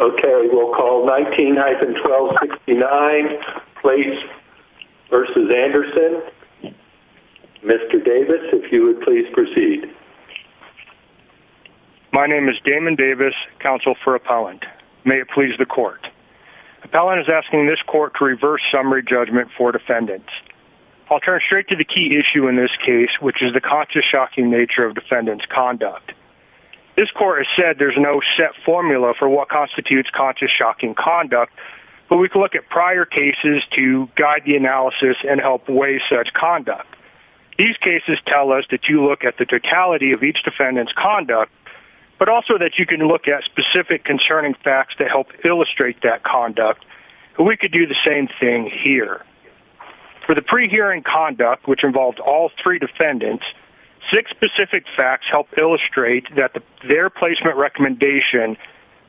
Okay, we'll call 19-1269 Place v. Anderson. Mr. Davis, if you would please proceed. My name is Damon Davis, Counsel for Appellant. May it please the Court. Appellant is asking this Court to reverse summary judgment for defendants. I'll turn straight to the key issue in this case, which is the constantly shocking nature of defendants' conduct. This Court has said there's no set formula for what constitutes conscious shocking conduct, but we can look at prior cases to guide the analysis and help weigh such conduct. These cases tell us that you look at the totality of each defendant's conduct, but also that you can look at specific concerning facts to help illustrate that conduct. We could do the same thing here. For the pre-hearing conduct, which involved all three defendants, six specific facts help illustrate that their placement recommendation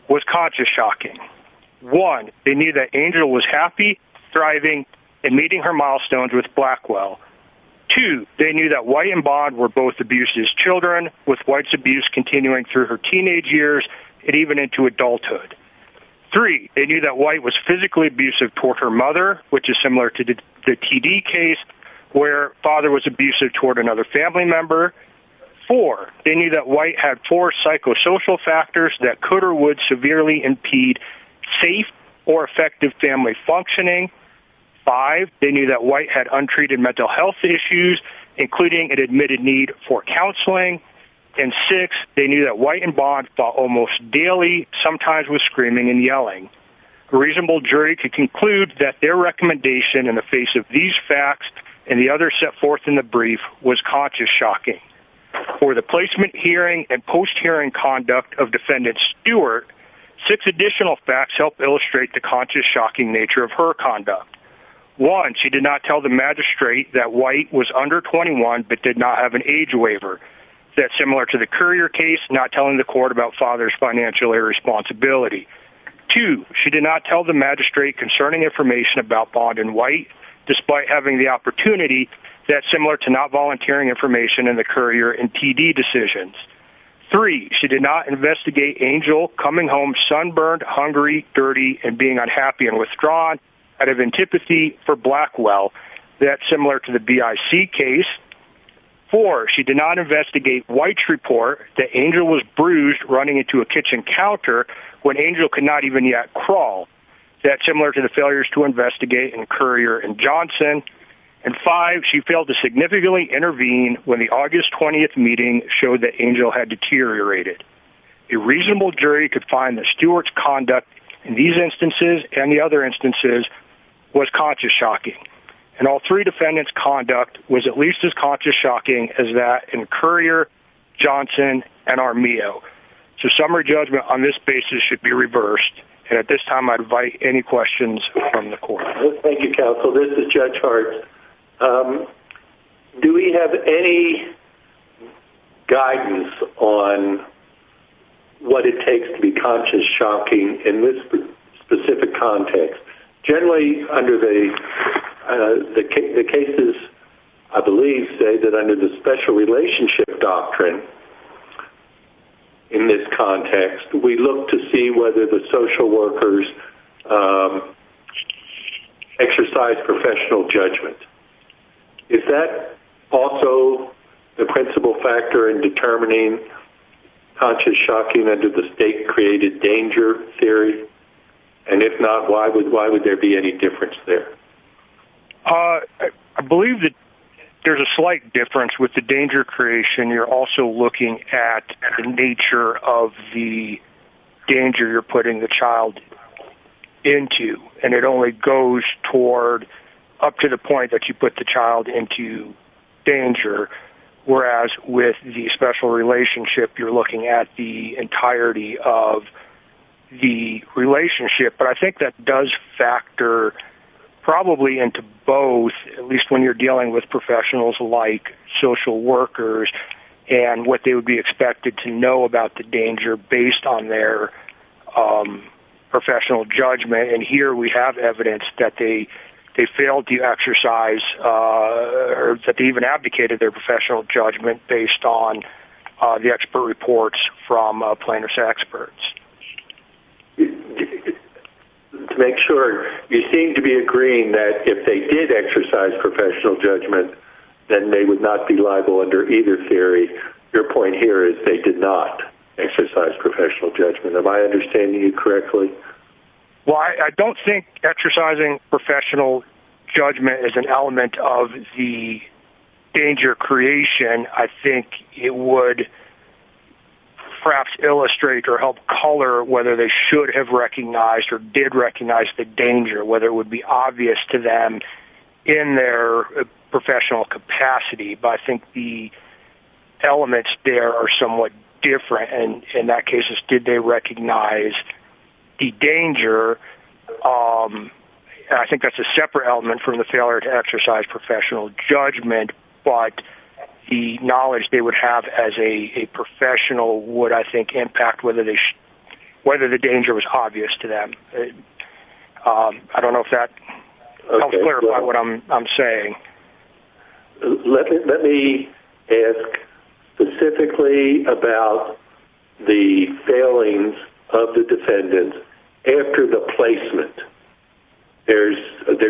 was conscious shocking. One, they knew that Angel was happy, thriving, and meeting her milestones with Blackwell. Two, they knew that White and Bond were both abused as children, with White's abuse continuing through her teenage years and even into adulthood. Three, they knew that White was physically abusive toward her mother, which is similar to the T.D. case where father was abusive toward another family member. Four, they knew that White had four psychosocial factors that could or would severely impede safe or effective family functioning. Five, they knew that White had untreated mental health issues, including an admitted need for counseling. And six, they knew that White and Bond fought almost daily, sometimes with screaming and yelling. A reasonable jury could conclude that their recommendation in the face of these facts and the others set forth in the brief was conscious shocking. For the placement hearing and post-hearing conduct of Defendant Stewart, six additional facts help illustrate the conscious shocking nature of her conduct. One, she did not tell the magistrate that White was under 21 but did not have an age waiver. That's similar to the Currier case, not telling the court about father's financial irresponsibility. Two, she did not tell the magistrate concerning information about Bond and White, despite having the opportunity. That's similar to not volunteering information in the Currier and T.D. decisions. Three, she did not investigate Angel coming home sunburned, hungry, dirty, and being unhappy and withdrawn out of antipathy for Blackwell. That's similar to the B.I.C. case. Four, she did not investigate White's report that Angel was bruised running into a kitchen counter when Angel could not even yet crawl. That's similar to the failures to investigate in Currier and Johnson. And five, she failed to significantly intervene when the August 20th meeting showed that Angel had deteriorated. A reasonable jury could find that Stewart's conduct in these instances and the other instances was conscious shocking. And all three defendants' conduct was at least as conscious shocking as that in Currier, Johnson, and Armijo. So summary judgment on this basis should be reversed, and at this time I invite any questions from the court. Thank you, counsel. This is Judge Hart. Do we have any guidance on what it takes to be conscious shocking in this specific context? Generally, the cases, I believe, say that under the special relationship doctrine in this context, we look to see whether the social workers exercise professional judgment. Is that also the principal factor in determining conscious shocking under the state-created danger theory? And if not, why would there be any difference there? I believe that there's a slight difference with the danger creation. You're also looking at the nature of the danger you're putting the child into, and it only goes toward up to the point that you put the child into danger, whereas with the special relationship you're looking at the entirety of the relationship. But I think that does factor probably into both, at least when you're dealing with professionals like social workers and what they would be expected to know about the danger based on their professional judgment. And here we have evidence that they failed to exercise or that they even advocated their professional judgment based on the expert reports from plaintiff's experts. To make sure, you seem to be agreeing that if they did exercise professional judgment, then they would not be liable under either theory. Your point here is they did not exercise professional judgment. If I understand you correctly. Well, I don't think exercising professional judgment is an element of the danger creation. I think it would perhaps illustrate or help color whether they should have recognized or did recognize the danger, whether it would be obvious to them in their professional capacity. But I think the elements there are somewhat different. And in that case, did they recognize the danger? I think that's a separate element from the failure to exercise professional judgment, but the knowledge they would have as a professional would, I think, impact whether the danger was obvious to them. I don't know if that helps clarify what I'm saying. Let me ask specifically about the failings of the defendants after the placement. There's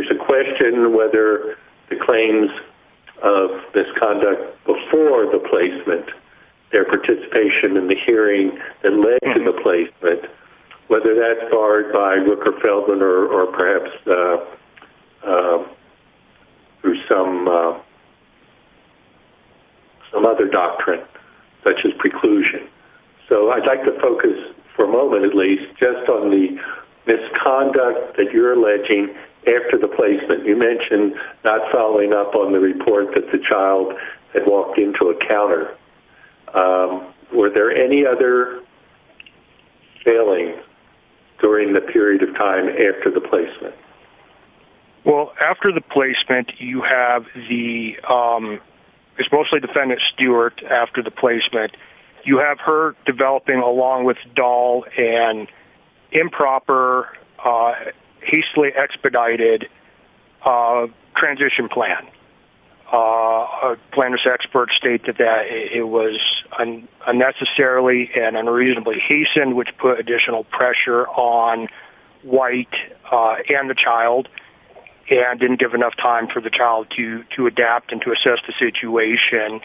a question whether the claims of misconduct before the placement, their participation in the hearing that led to the placement, whether that's barred by Rooker-Feldman or perhaps through some other doctrine such as preclusion. So I'd like to focus for a moment at least just on the misconduct that you're alleging after the placement. You mentioned not following up on the report that the child had walked into a counter. Were there any other failings during the period of time after the placement? Well, after the placement, you have the-it's mostly Defendant Stewart after the placement. You have her developing, along with Dahl, an improper, hastily expedited transition plan. Plaintiff's experts state that it was unnecessarily and unreasonably hastened, which put additional pressure on White and the child and didn't give enough time for the child to adapt and to assess the situation.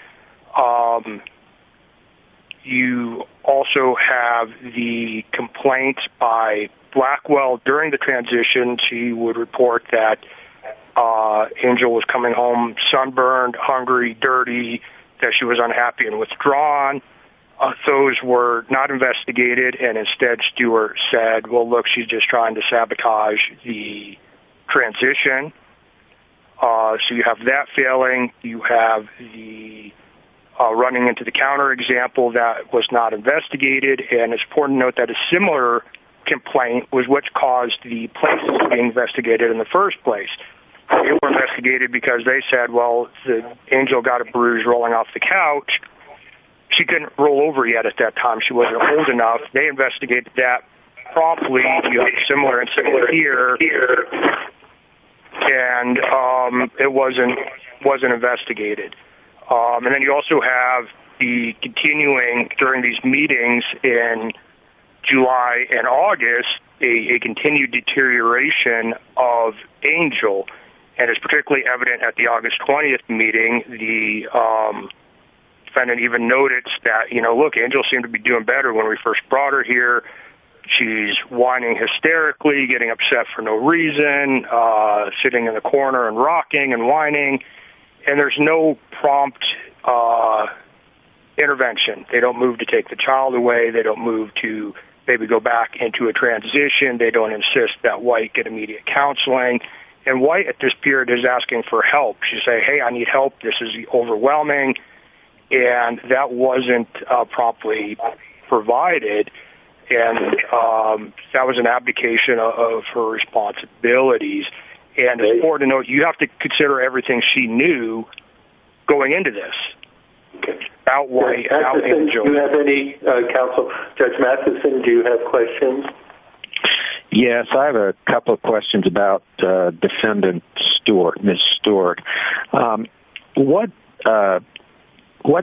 You also have the complaints by Blackwell during the transition. She would report that Angel was coming home sunburned, hungry, dirty, that she was unhappy and withdrawn. Those were not investigated, and instead Stewart said, well, look, she's just trying to sabotage the transition. So you have that failing. You have the running into the counter example. That was not investigated. And it's important to note that a similar complaint was what caused the placement to be investigated in the first place. It was investigated because they said, well, Angel got a bruise rolling off the couch. She couldn't roll over yet at that time. She wasn't old enough. They investigated that promptly. You have similar and similar here. And it wasn't investigated. And then you also have the continuing, during these meetings in July and August, a continued deterioration of Angel. And it's particularly evident at the August 20th meeting. The defendant even noticed that, you know, look, Angel seemed to be doing better when we first brought her here. She's whining hysterically, getting upset for no reason, sitting in the corner and rocking and whining. And there's no prompt intervention. They don't move to take the child away. They don't move to maybe go back into a transition. They don't insist that White get immediate counseling. And White at this period is asking for help. She's saying, hey, I need help. This is overwhelming. And that wasn't promptly provided. And that was an abdication of her responsibilities. And it's important to note, you have to consider everything she knew going into this. Outweigh Angel. Do you have any counsel? Judge Matheson, do you have questions? Yes, I have a couple of questions about Defendant Stewart, Ms. Stewart. What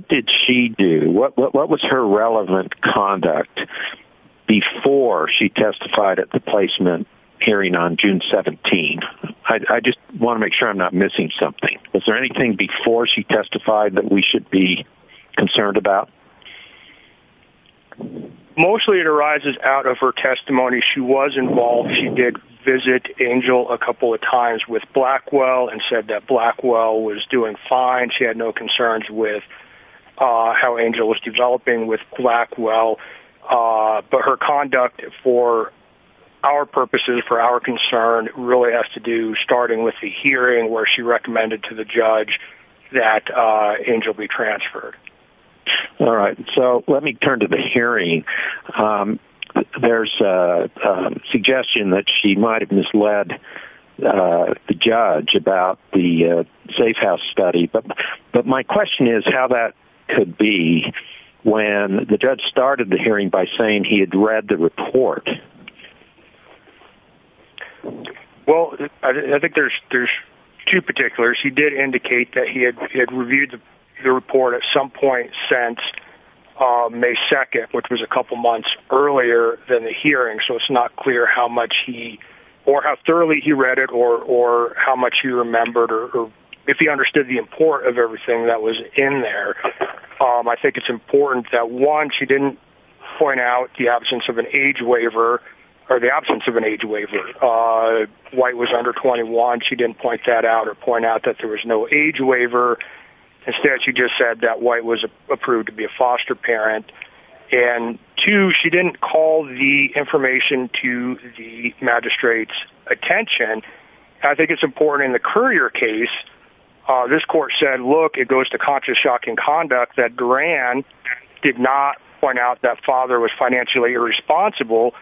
did she do? What was her relevant conduct before she testified at the placement hearing on June 17th? I just want to make sure I'm not missing something. Was there anything before she testified that we should be concerned about? Mostly it arises out of her testimony. She was involved. She did visit Angel a couple of times with Blackwell and said that Blackwell was doing fine. She had no concerns with how Angel was developing with Blackwell. But her conduct for our purposes, for our concern, really has to do, starting with the hearing, where she recommended to the judge that Angel be transferred. All right. So let me turn to the hearing. There's a suggestion that she might have misled the judge about the safe house study. But my question is how that could be when the judge started the hearing by saying he had read the report. Well, I think there's two particulars. He did indicate that he had reviewed the report at some point since May 2nd, which was a couple months earlier than the hearing, so it's not clear how much he or how thoroughly he read it or how much he remembered or if he understood the import of everything that was in there. I think it's important that, one, she didn't point out the absence of an age waiver, or the absence of an age waiver. White was under 21. She didn't point that out or point out that there was no age waiver. Instead, she just said that White was approved to be a foster parent. And, two, she didn't call the information to the magistrate's attention. I think it's important in the Currier case, this court said, look, it goes to conscious shocking conduct that Garan did not point out that father was financially irresponsible,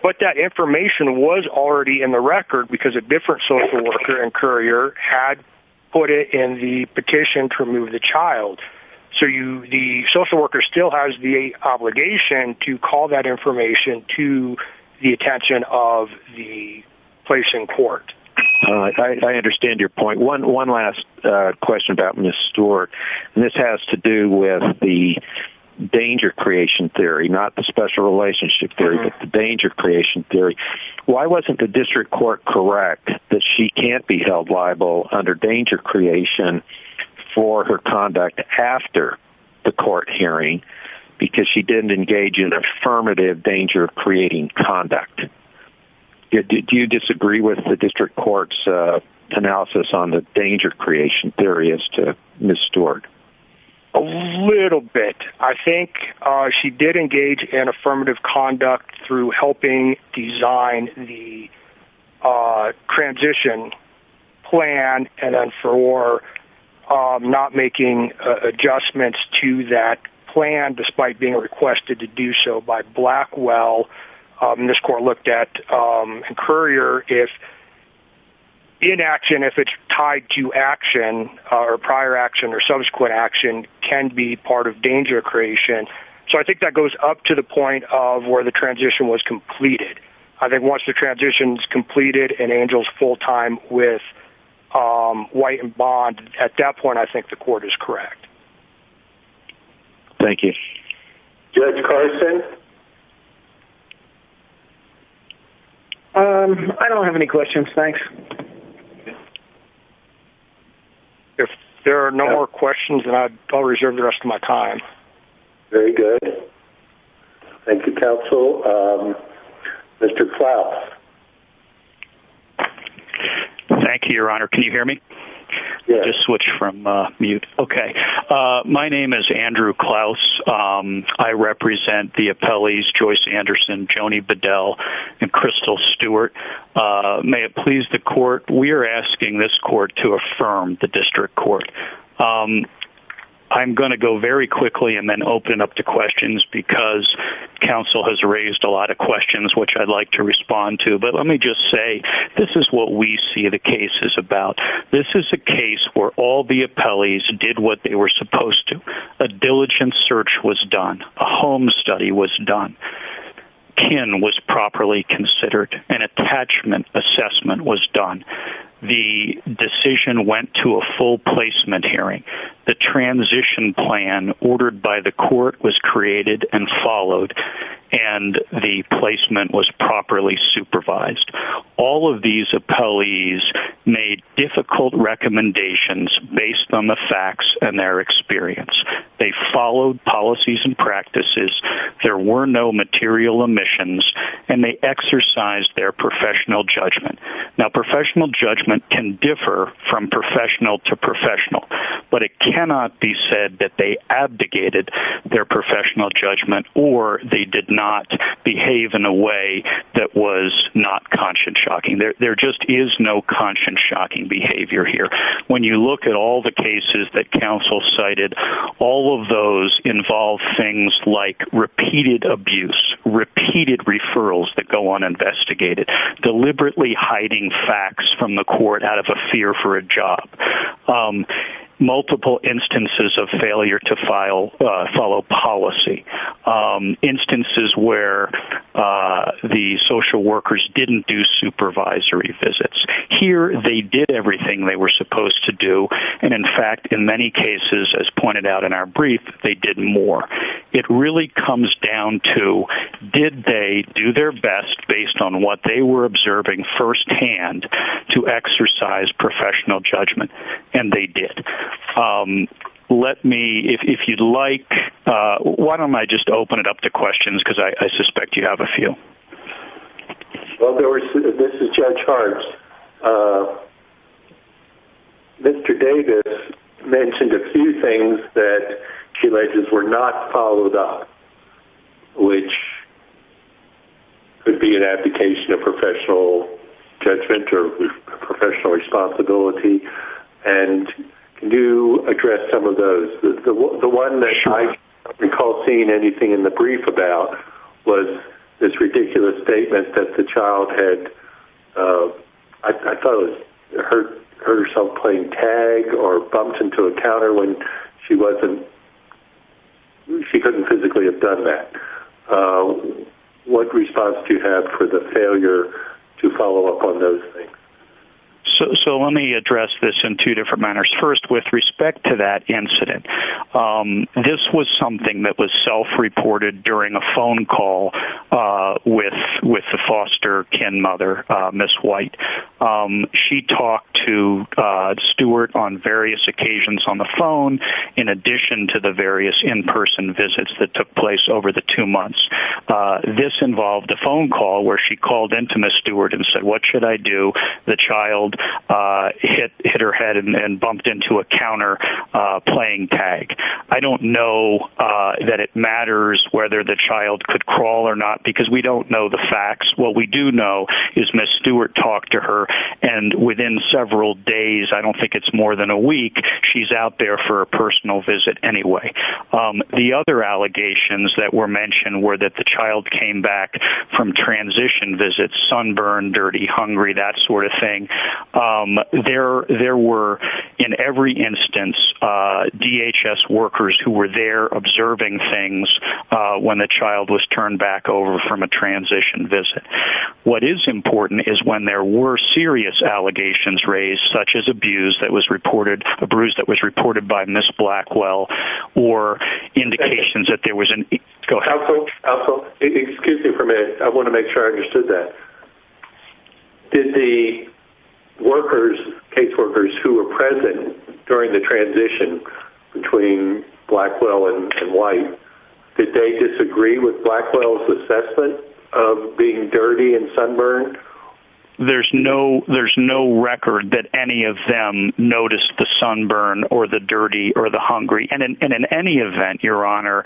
but that information was already in the record because a different social worker in Currier had put it in the petition to remove the child. So the social worker still has the obligation to call that information to the attention of the place in court. I understand your point. One last question about Ms. Stewart, and this has to do with the danger creation theory, not the special relationship theory, but the danger creation theory. Why wasn't the district court correct that she can't be held liable under danger creation for her conduct after the court hearing because she didn't engage in affirmative danger of creating conduct? Did you disagree with the district court's analysis on the danger creation theory as to Ms. Stewart? A little bit. I think she did engage in affirmative conduct through helping design the transition plan and then for not making adjustments to that plan despite being requested to do so by Blackwell. This court looked at Currier if inaction, if it's tied to action, or prior action or subsequent action can be part of danger creation. So I think that goes up to the point of where the transition was completed. I think once the transition's completed and Angel's full-time with White and Bond, at that point I think the court is correct. Thank you. Judge Carson? I don't have any questions. Thanks. If there are no more questions, then I'll reserve the rest of my time. Very good. Thank you, counsel. Mr. Klaus? Thank you, Your Honor. Can you hear me? Yes. I'll just switch from mute. Okay. My name is Andrew Klaus. I represent the appellees Joyce Anderson, Joni Bedell, and Crystal Stewart. May it please the court, we are asking this court to affirm the district court. I'm going to go very quickly and then open up to questions because counsel has raised a lot of questions, which I'd like to respond to. But let me just say this is what we see the case is about. This is a case where all the appellees did what they were supposed to. A diligent search was done. A home study was done. Kin was properly considered. An attachment assessment was done. The decision went to a full placement hearing. The transition plan ordered by the court was created and followed, and the placement was properly supervised. All of these appellees made difficult recommendations based on the facts and their experience. They followed policies and practices. There were no material omissions, and they exercised their professional judgment. Now, professional judgment can differ from professional to professional, but it cannot be said that they abdicated their professional judgment or they did not behave in a way that was not conscience-shocking. There just is no conscience-shocking behavior here. When you look at all the cases that counsel cited, all of those involve things like repeated abuse, repeated referrals that go uninvestigated, deliberately hiding facts from the court out of a fear for a job. Multiple instances of failure to follow policy. Instances where the social workers didn't do supervisory visits. Here they did everything they were supposed to do, and, in fact, in many cases, as pointed out in our brief, they did more. It really comes down to did they do their best based on what they were observing firsthand to exercise professional judgment, and they did. Let me, if you'd like, why don't I just open it up to questions because I suspect you have a few. Well, this is Judge Hart. Mr. Davis mentioned a few things that he alleges were not followed up, which could be an application of professional judgment or professional responsibility, and can you address some of those? The one that I recall seeing anything in the brief about was this ridiculous statement that the child had, I thought it was hurt herself playing tag or bumped into a counter when she wasn't, she couldn't physically have done that. What response do you have for the failure to follow up on those things? So let me address this in two different manners. First, with respect to that incident, this was something that was self-reported during a phone call with the foster kin mother, Ms. White. She talked to Stewart on various occasions on the phone, in addition to the various in-person visits that took place over the two months. This involved a phone call where she called into Ms. Stewart and said, what should I do? The child hit her head and bumped into a counter playing tag. I don't know that it matters whether the child could crawl or not because we don't know the facts. What we do know is Ms. Stewart talked to her and within several days, I don't think it's more than a week, she's out there for a personal visit anyway. The other allegations that were mentioned were that the child came back from transition visits, sunburned, dirty, hungry, that sort of thing. There were, in every instance, DHS workers who were there observing things when the child was turned back over from a transition visit. What is important is when there were serious allegations raised, such as abuse that was reported, a bruise that was reported by Ms. Blackwell, or indications that there was an... Go ahead. Excuse me for a minute. I want to make sure I understood that. Did the workers, case workers who were present during the transition between Blackwell and White, did they disagree with Blackwell's assessment of being dirty and sunburned? There's no record that any of them noticed the sunburn or the dirty or the hungry. In any event, Your Honor,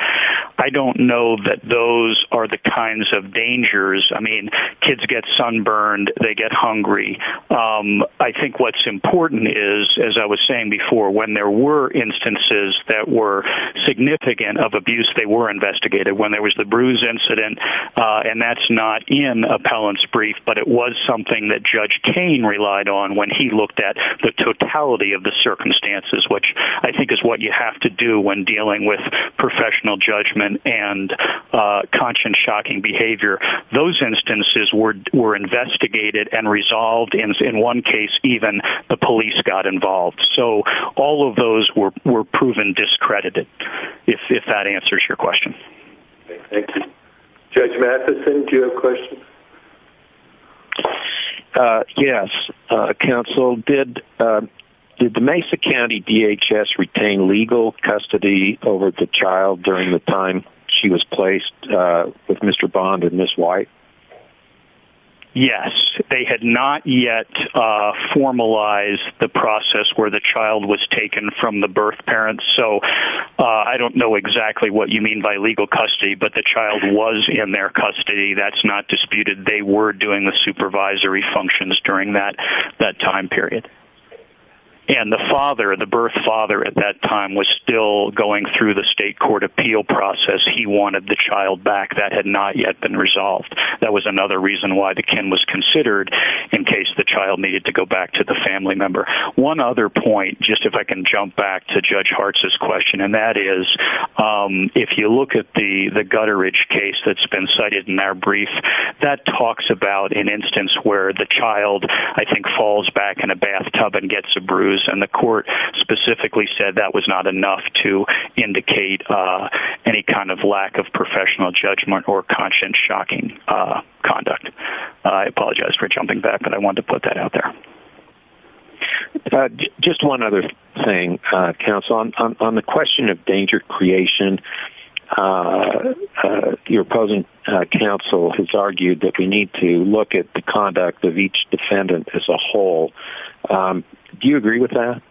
I don't know that those are the kinds of dangers. I mean, kids get sunburned. They get hungry. I think what's important is, as I was saying before, when there were instances that were significant of abuse, they were investigated. When there was the bruise incident, and that's not in Appellant's brief, but it was something that Judge Kane relied on when he looked at the totality of the circumstances, which I think is what you have to do when dealing with professional judgment and conscience-shocking behavior. Those instances were investigated and resolved. In one case, even the police got involved. So all of those were proven discredited, if that answers your question. Thank you. Judge Matheson, do you have a question? Yes, counsel. Did the Mesa County DHS retain legal custody over the child during the time she was placed with Mr. Bond and Ms. White? Yes. They had not yet formalized the process where the child was taken from the birth parents. So I don't know exactly what you mean by legal custody, but the child was in their custody. That's not disputed. They were doing the supervisory functions during that time period. And the father, the birth father at that time, was still going through the state court appeal process. He wanted the child back. That had not yet been resolved. That was another reason why the Ken was considered in case the child needed to go back to the family member. One other point, just if I can jump back to Judge Hartz's question, and that is if you look at the Gutteridge case that's been cited in our brief, that talks about an instance where the child, I think, falls back in a bathtub and gets a bruise, and the court specifically said that was not enough to indicate any kind of lack of professional judgment or conscious shocking conduct. I apologize for jumping back, but I wanted to put that out there. Just one other thing, counsel. On the question of danger creation, your opposing counsel has argued that we need to look at the conduct of each defendant as a whole. Do you agree with that?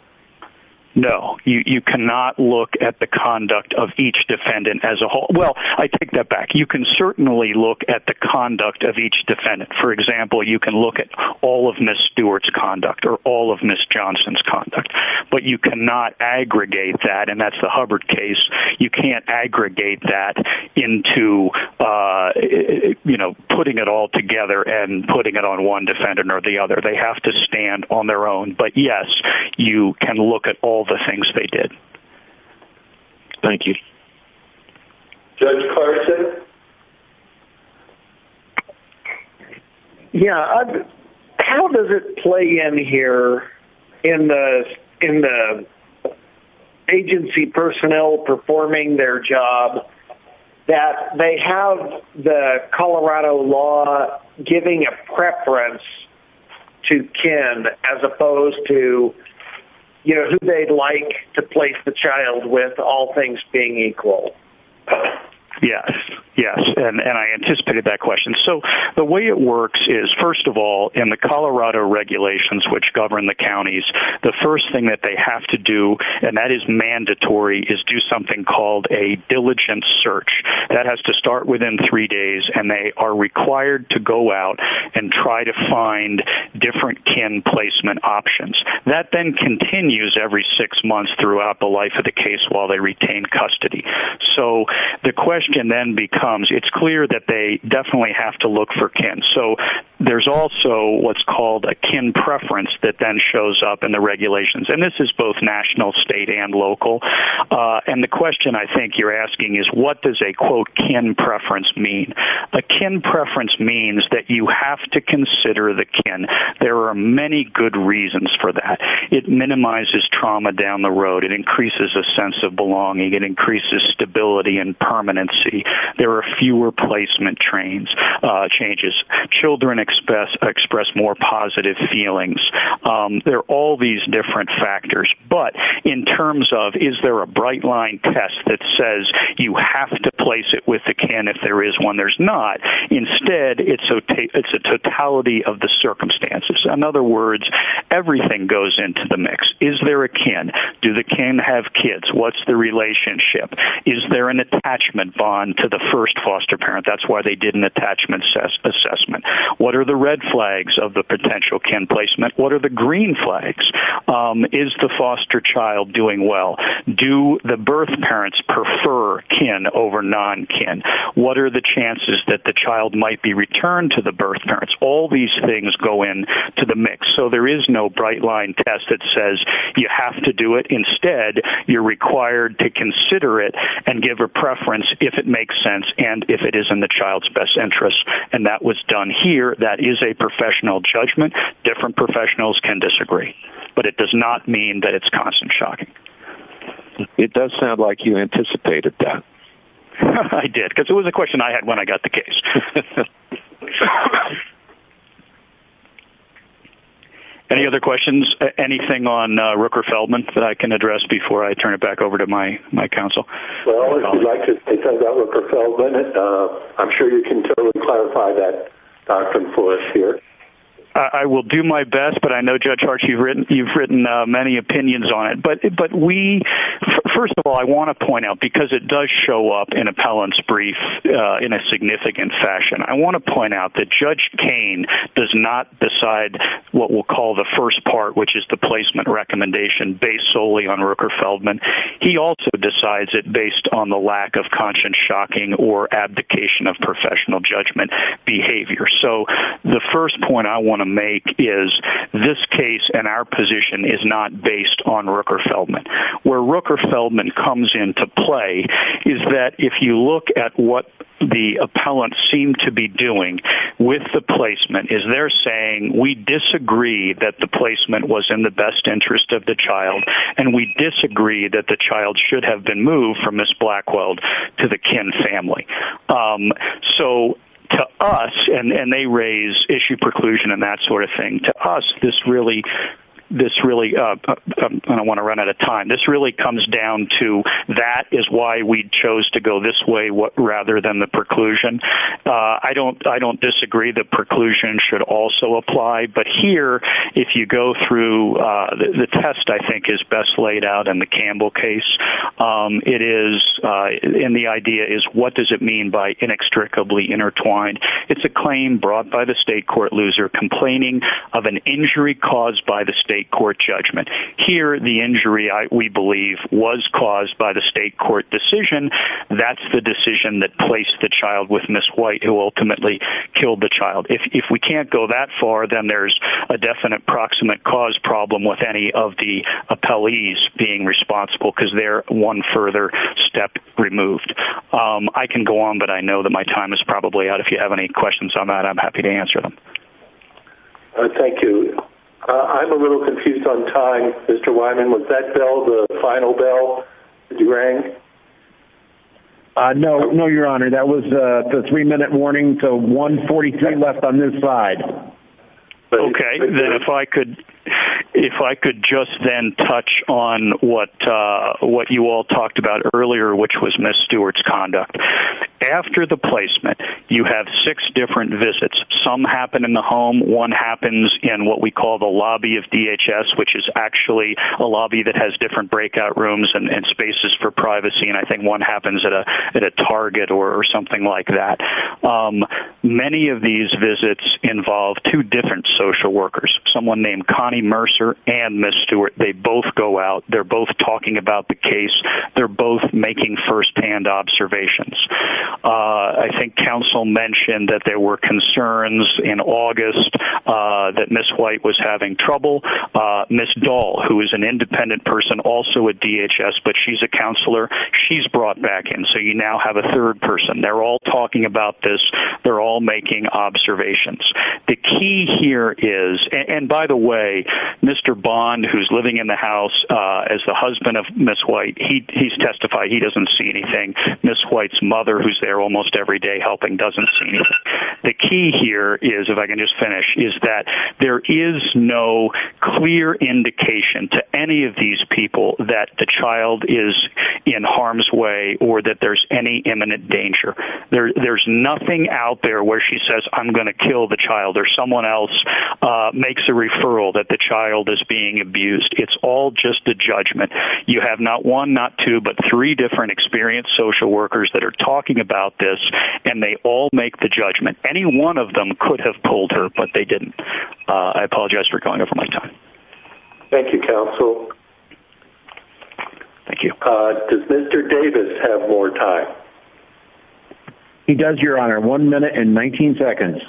No. You cannot look at the conduct of each defendant as a whole. Well, I take that back. You can certainly look at the conduct of each defendant. For example, you can look at all of Ms. Stewart's conduct or all of Ms. Johnson's conduct, but you cannot aggregate that, and that's the Hubbard case. You can't aggregate that into putting it all together and putting it on one defendant or the other. They have to stand on their own. But, yes, you can look at all the things they did. Thank you. Judge Carson? Yeah. How does it play in here in the agency personnel performing their job that they have the Colorado law giving a preference to kin as opposed to, you know, who they'd like to place the child with, all things being equal? Yes, yes, and I anticipated that question. So the way it works is, first of all, in the Colorado regulations, which govern the counties, the first thing that they have to do, and that is mandatory, is do something called a diligent search. That has to start within three days, and they are required to go out and try to find different kin placement options. That then continues every six months throughout the life of the case while they retain custody. So the question then becomes, it's clear that they definitely have to look for kin. So there's also what's called a kin preference that then shows up in the regulations, and this is both national, state, and local. And the question I think you're asking is, what does a, quote, kin preference mean? A kin preference means that you have to consider the kin. There are many good reasons for that. It minimizes trauma down the road. It increases a sense of belonging. It increases stability and permanency. There are fewer placement changes. Children express more positive feelings. There are all these different factors. But in terms of is there a bright-line test that says you have to place it with the kin if there is one, there's not. Instead, it's a totality of the circumstances. In other words, everything goes into the mix. Is there a kin? Do the kin have kids? What's the relationship? Is there an attachment bond to the first foster parent? That's why they did an attachment assessment. What are the red flags of the potential kin placement? What are the green flags? Is the foster child doing well? Do the birth parents prefer kin over non-kin? What are the chances that the child might be returned to the birth parents? All these things go into the mix. So there is no bright-line test that says you have to do it. Instead, you're required to consider it and give a preference if it makes sense and if it is in the child's best interest. And that was done here. That is a professional judgment. Different professionals can disagree. But it does not mean that it's constant shocking. It does sound like you anticipated that. I did, because it was a question I had when I got the case. Any other questions? Anything on Rooker-Feldman that I can address before I turn it back over to my counsel? Well, if you'd like to take on that Rooker-Feldman, I'm sure you can totally clarify that doctrine for us here. I will do my best, but I know, Judge Arch, you've written many opinions on it. But we, first of all, I want to point out, because it does show up in appellant's brief in a significant fashion, I want to point out that Judge Koehn does not decide what we'll call the first part, which is the placement recommendation, based solely on Rooker-Feldman. He also decides it based on the lack of constant shocking or abdication of professional judgment behavior. So the first point I want to make is this case and our position is not based on Rooker-Feldman. Where Rooker-Feldman comes into play is that if you look at what the appellant seemed to be doing with the placement, is they're saying, we disagree that the placement was in the best interest of the child, and we disagree that the child should have been moved from Miss Blackwell to the Kin family. So to us, and they raise issue preclusion and that sort of thing, to us, this really, and I want to run out of time, this really comes down to that is why we chose to go this way rather than the preclusion. I don't disagree that preclusion should also apply. But here, if you go through, the test, I think, is best laid out in the Campbell case. It is, and the idea is, what does it mean by inextricably intertwined? It's a claim brought by the state court loser complaining of an injury caused by the state court judgment. Here, the injury, we believe, was caused by the state court decision. That's the decision that placed the child with Miss White, who ultimately killed the child. If we can't go that far, then there's a definite proximate cause problem with any of the appellees being responsible, because they're one further step removed. I can go on, but I know that my time is probably out. If you have any questions on that, I'm happy to answer them. Thank you. I'm a little confused on time, Mr. Wyman. Was that bell, the final bell, did you ring? No, no, Your Honor. That was the three-minute warning, so 1.43 left on this side. Okay, then if I could just then touch on what you all talked about earlier, which was Miss Stewart's conduct. After the placement, you have six different visits. Some happen in the home, one happens in what we call the lobby of DHS, which is actually a lobby that has different breakout rooms and spaces for privacy, and I think one happens at a Target or something like that. Many of these visits involve two different social workers, someone named Connie Mercer and Miss Stewart. They both go out. They're both talking about the case. They're both making first-hand observations. I think counsel mentioned that there were concerns in August that Miss White was having trouble. Miss Dahl, who is an independent person also at DHS, but she's a counselor, she's brought back in, so you now have a third person. They're all talking about this. They're all making observations. The key here is, and by the way, Mr. Bond, who's living in the house as the husband of Miss White, he's testified he doesn't see anything. Miss White's mother, who's there almost every day helping, doesn't see anything. The key here is, if I can just finish, is that there is no clear indication to any of these people that the child is in harm's way or that there's any imminent danger. There's nothing out there where she says, I'm going to kill the child, or someone else makes a referral that the child is being abused. It's all just a judgment. You have not one, not two, but three different experienced social workers that are talking about this, and they all make the judgment. Any one of them could have pulled her, but they didn't. I apologize for going over my time. Thank you, Counsel. Thank you. Does Mr. Davis have more time? He does, Your Honor, one minute and 19 seconds.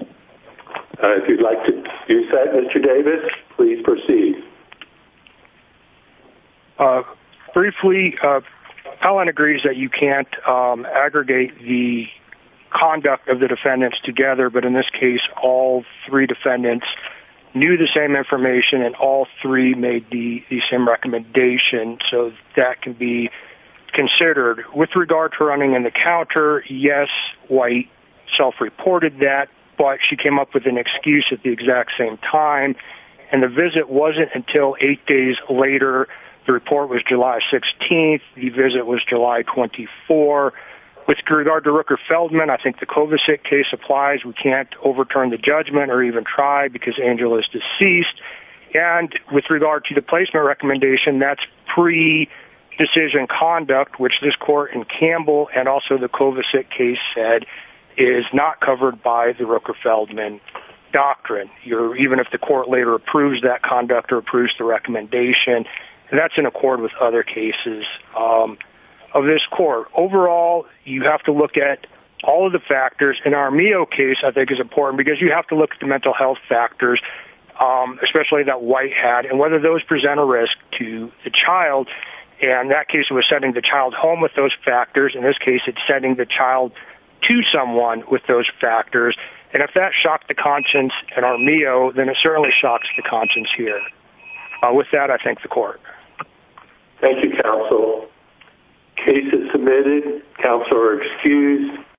If you'd like to use that, Mr. Davis, please proceed. Briefly, Helen agrees that you can't aggregate the conduct of the defendants together, but in this case all three defendants knew the same information and all three made the same recommendation, so that can be considered. With regard to running in the counter, yes, White self-reported that, but she came up with an excuse at the exact same time, and the visit wasn't until eight days later. The report was July 16th. The visit was July 24th. With regard to Rooker-Feldman, I think the Kovacic case applies. We can't overturn the judgment or even try because Angela is deceased. And with regard to the placement recommendation, that's pre-decision conduct, which this court in Campbell and also the Kovacic case said is not covered by the Rooker-Feldman doctrine. Even if the court later approves that conduct or approves the recommendation, that's in accord with other cases of this court. Overall, you have to look at all of the factors, and our Mio case I think is important because you have to look at the mental health factors, especially that White had, and whether those present a risk to the child. In that case, it was sending the child home with those factors. In this case, it's sending the child to someone with those factors. And if that shocked the conscience in our Mio, then it certainly shocks the conscience here. With that, I thank the court. Thank you, counsel. Case is submitted. Counsel are excused.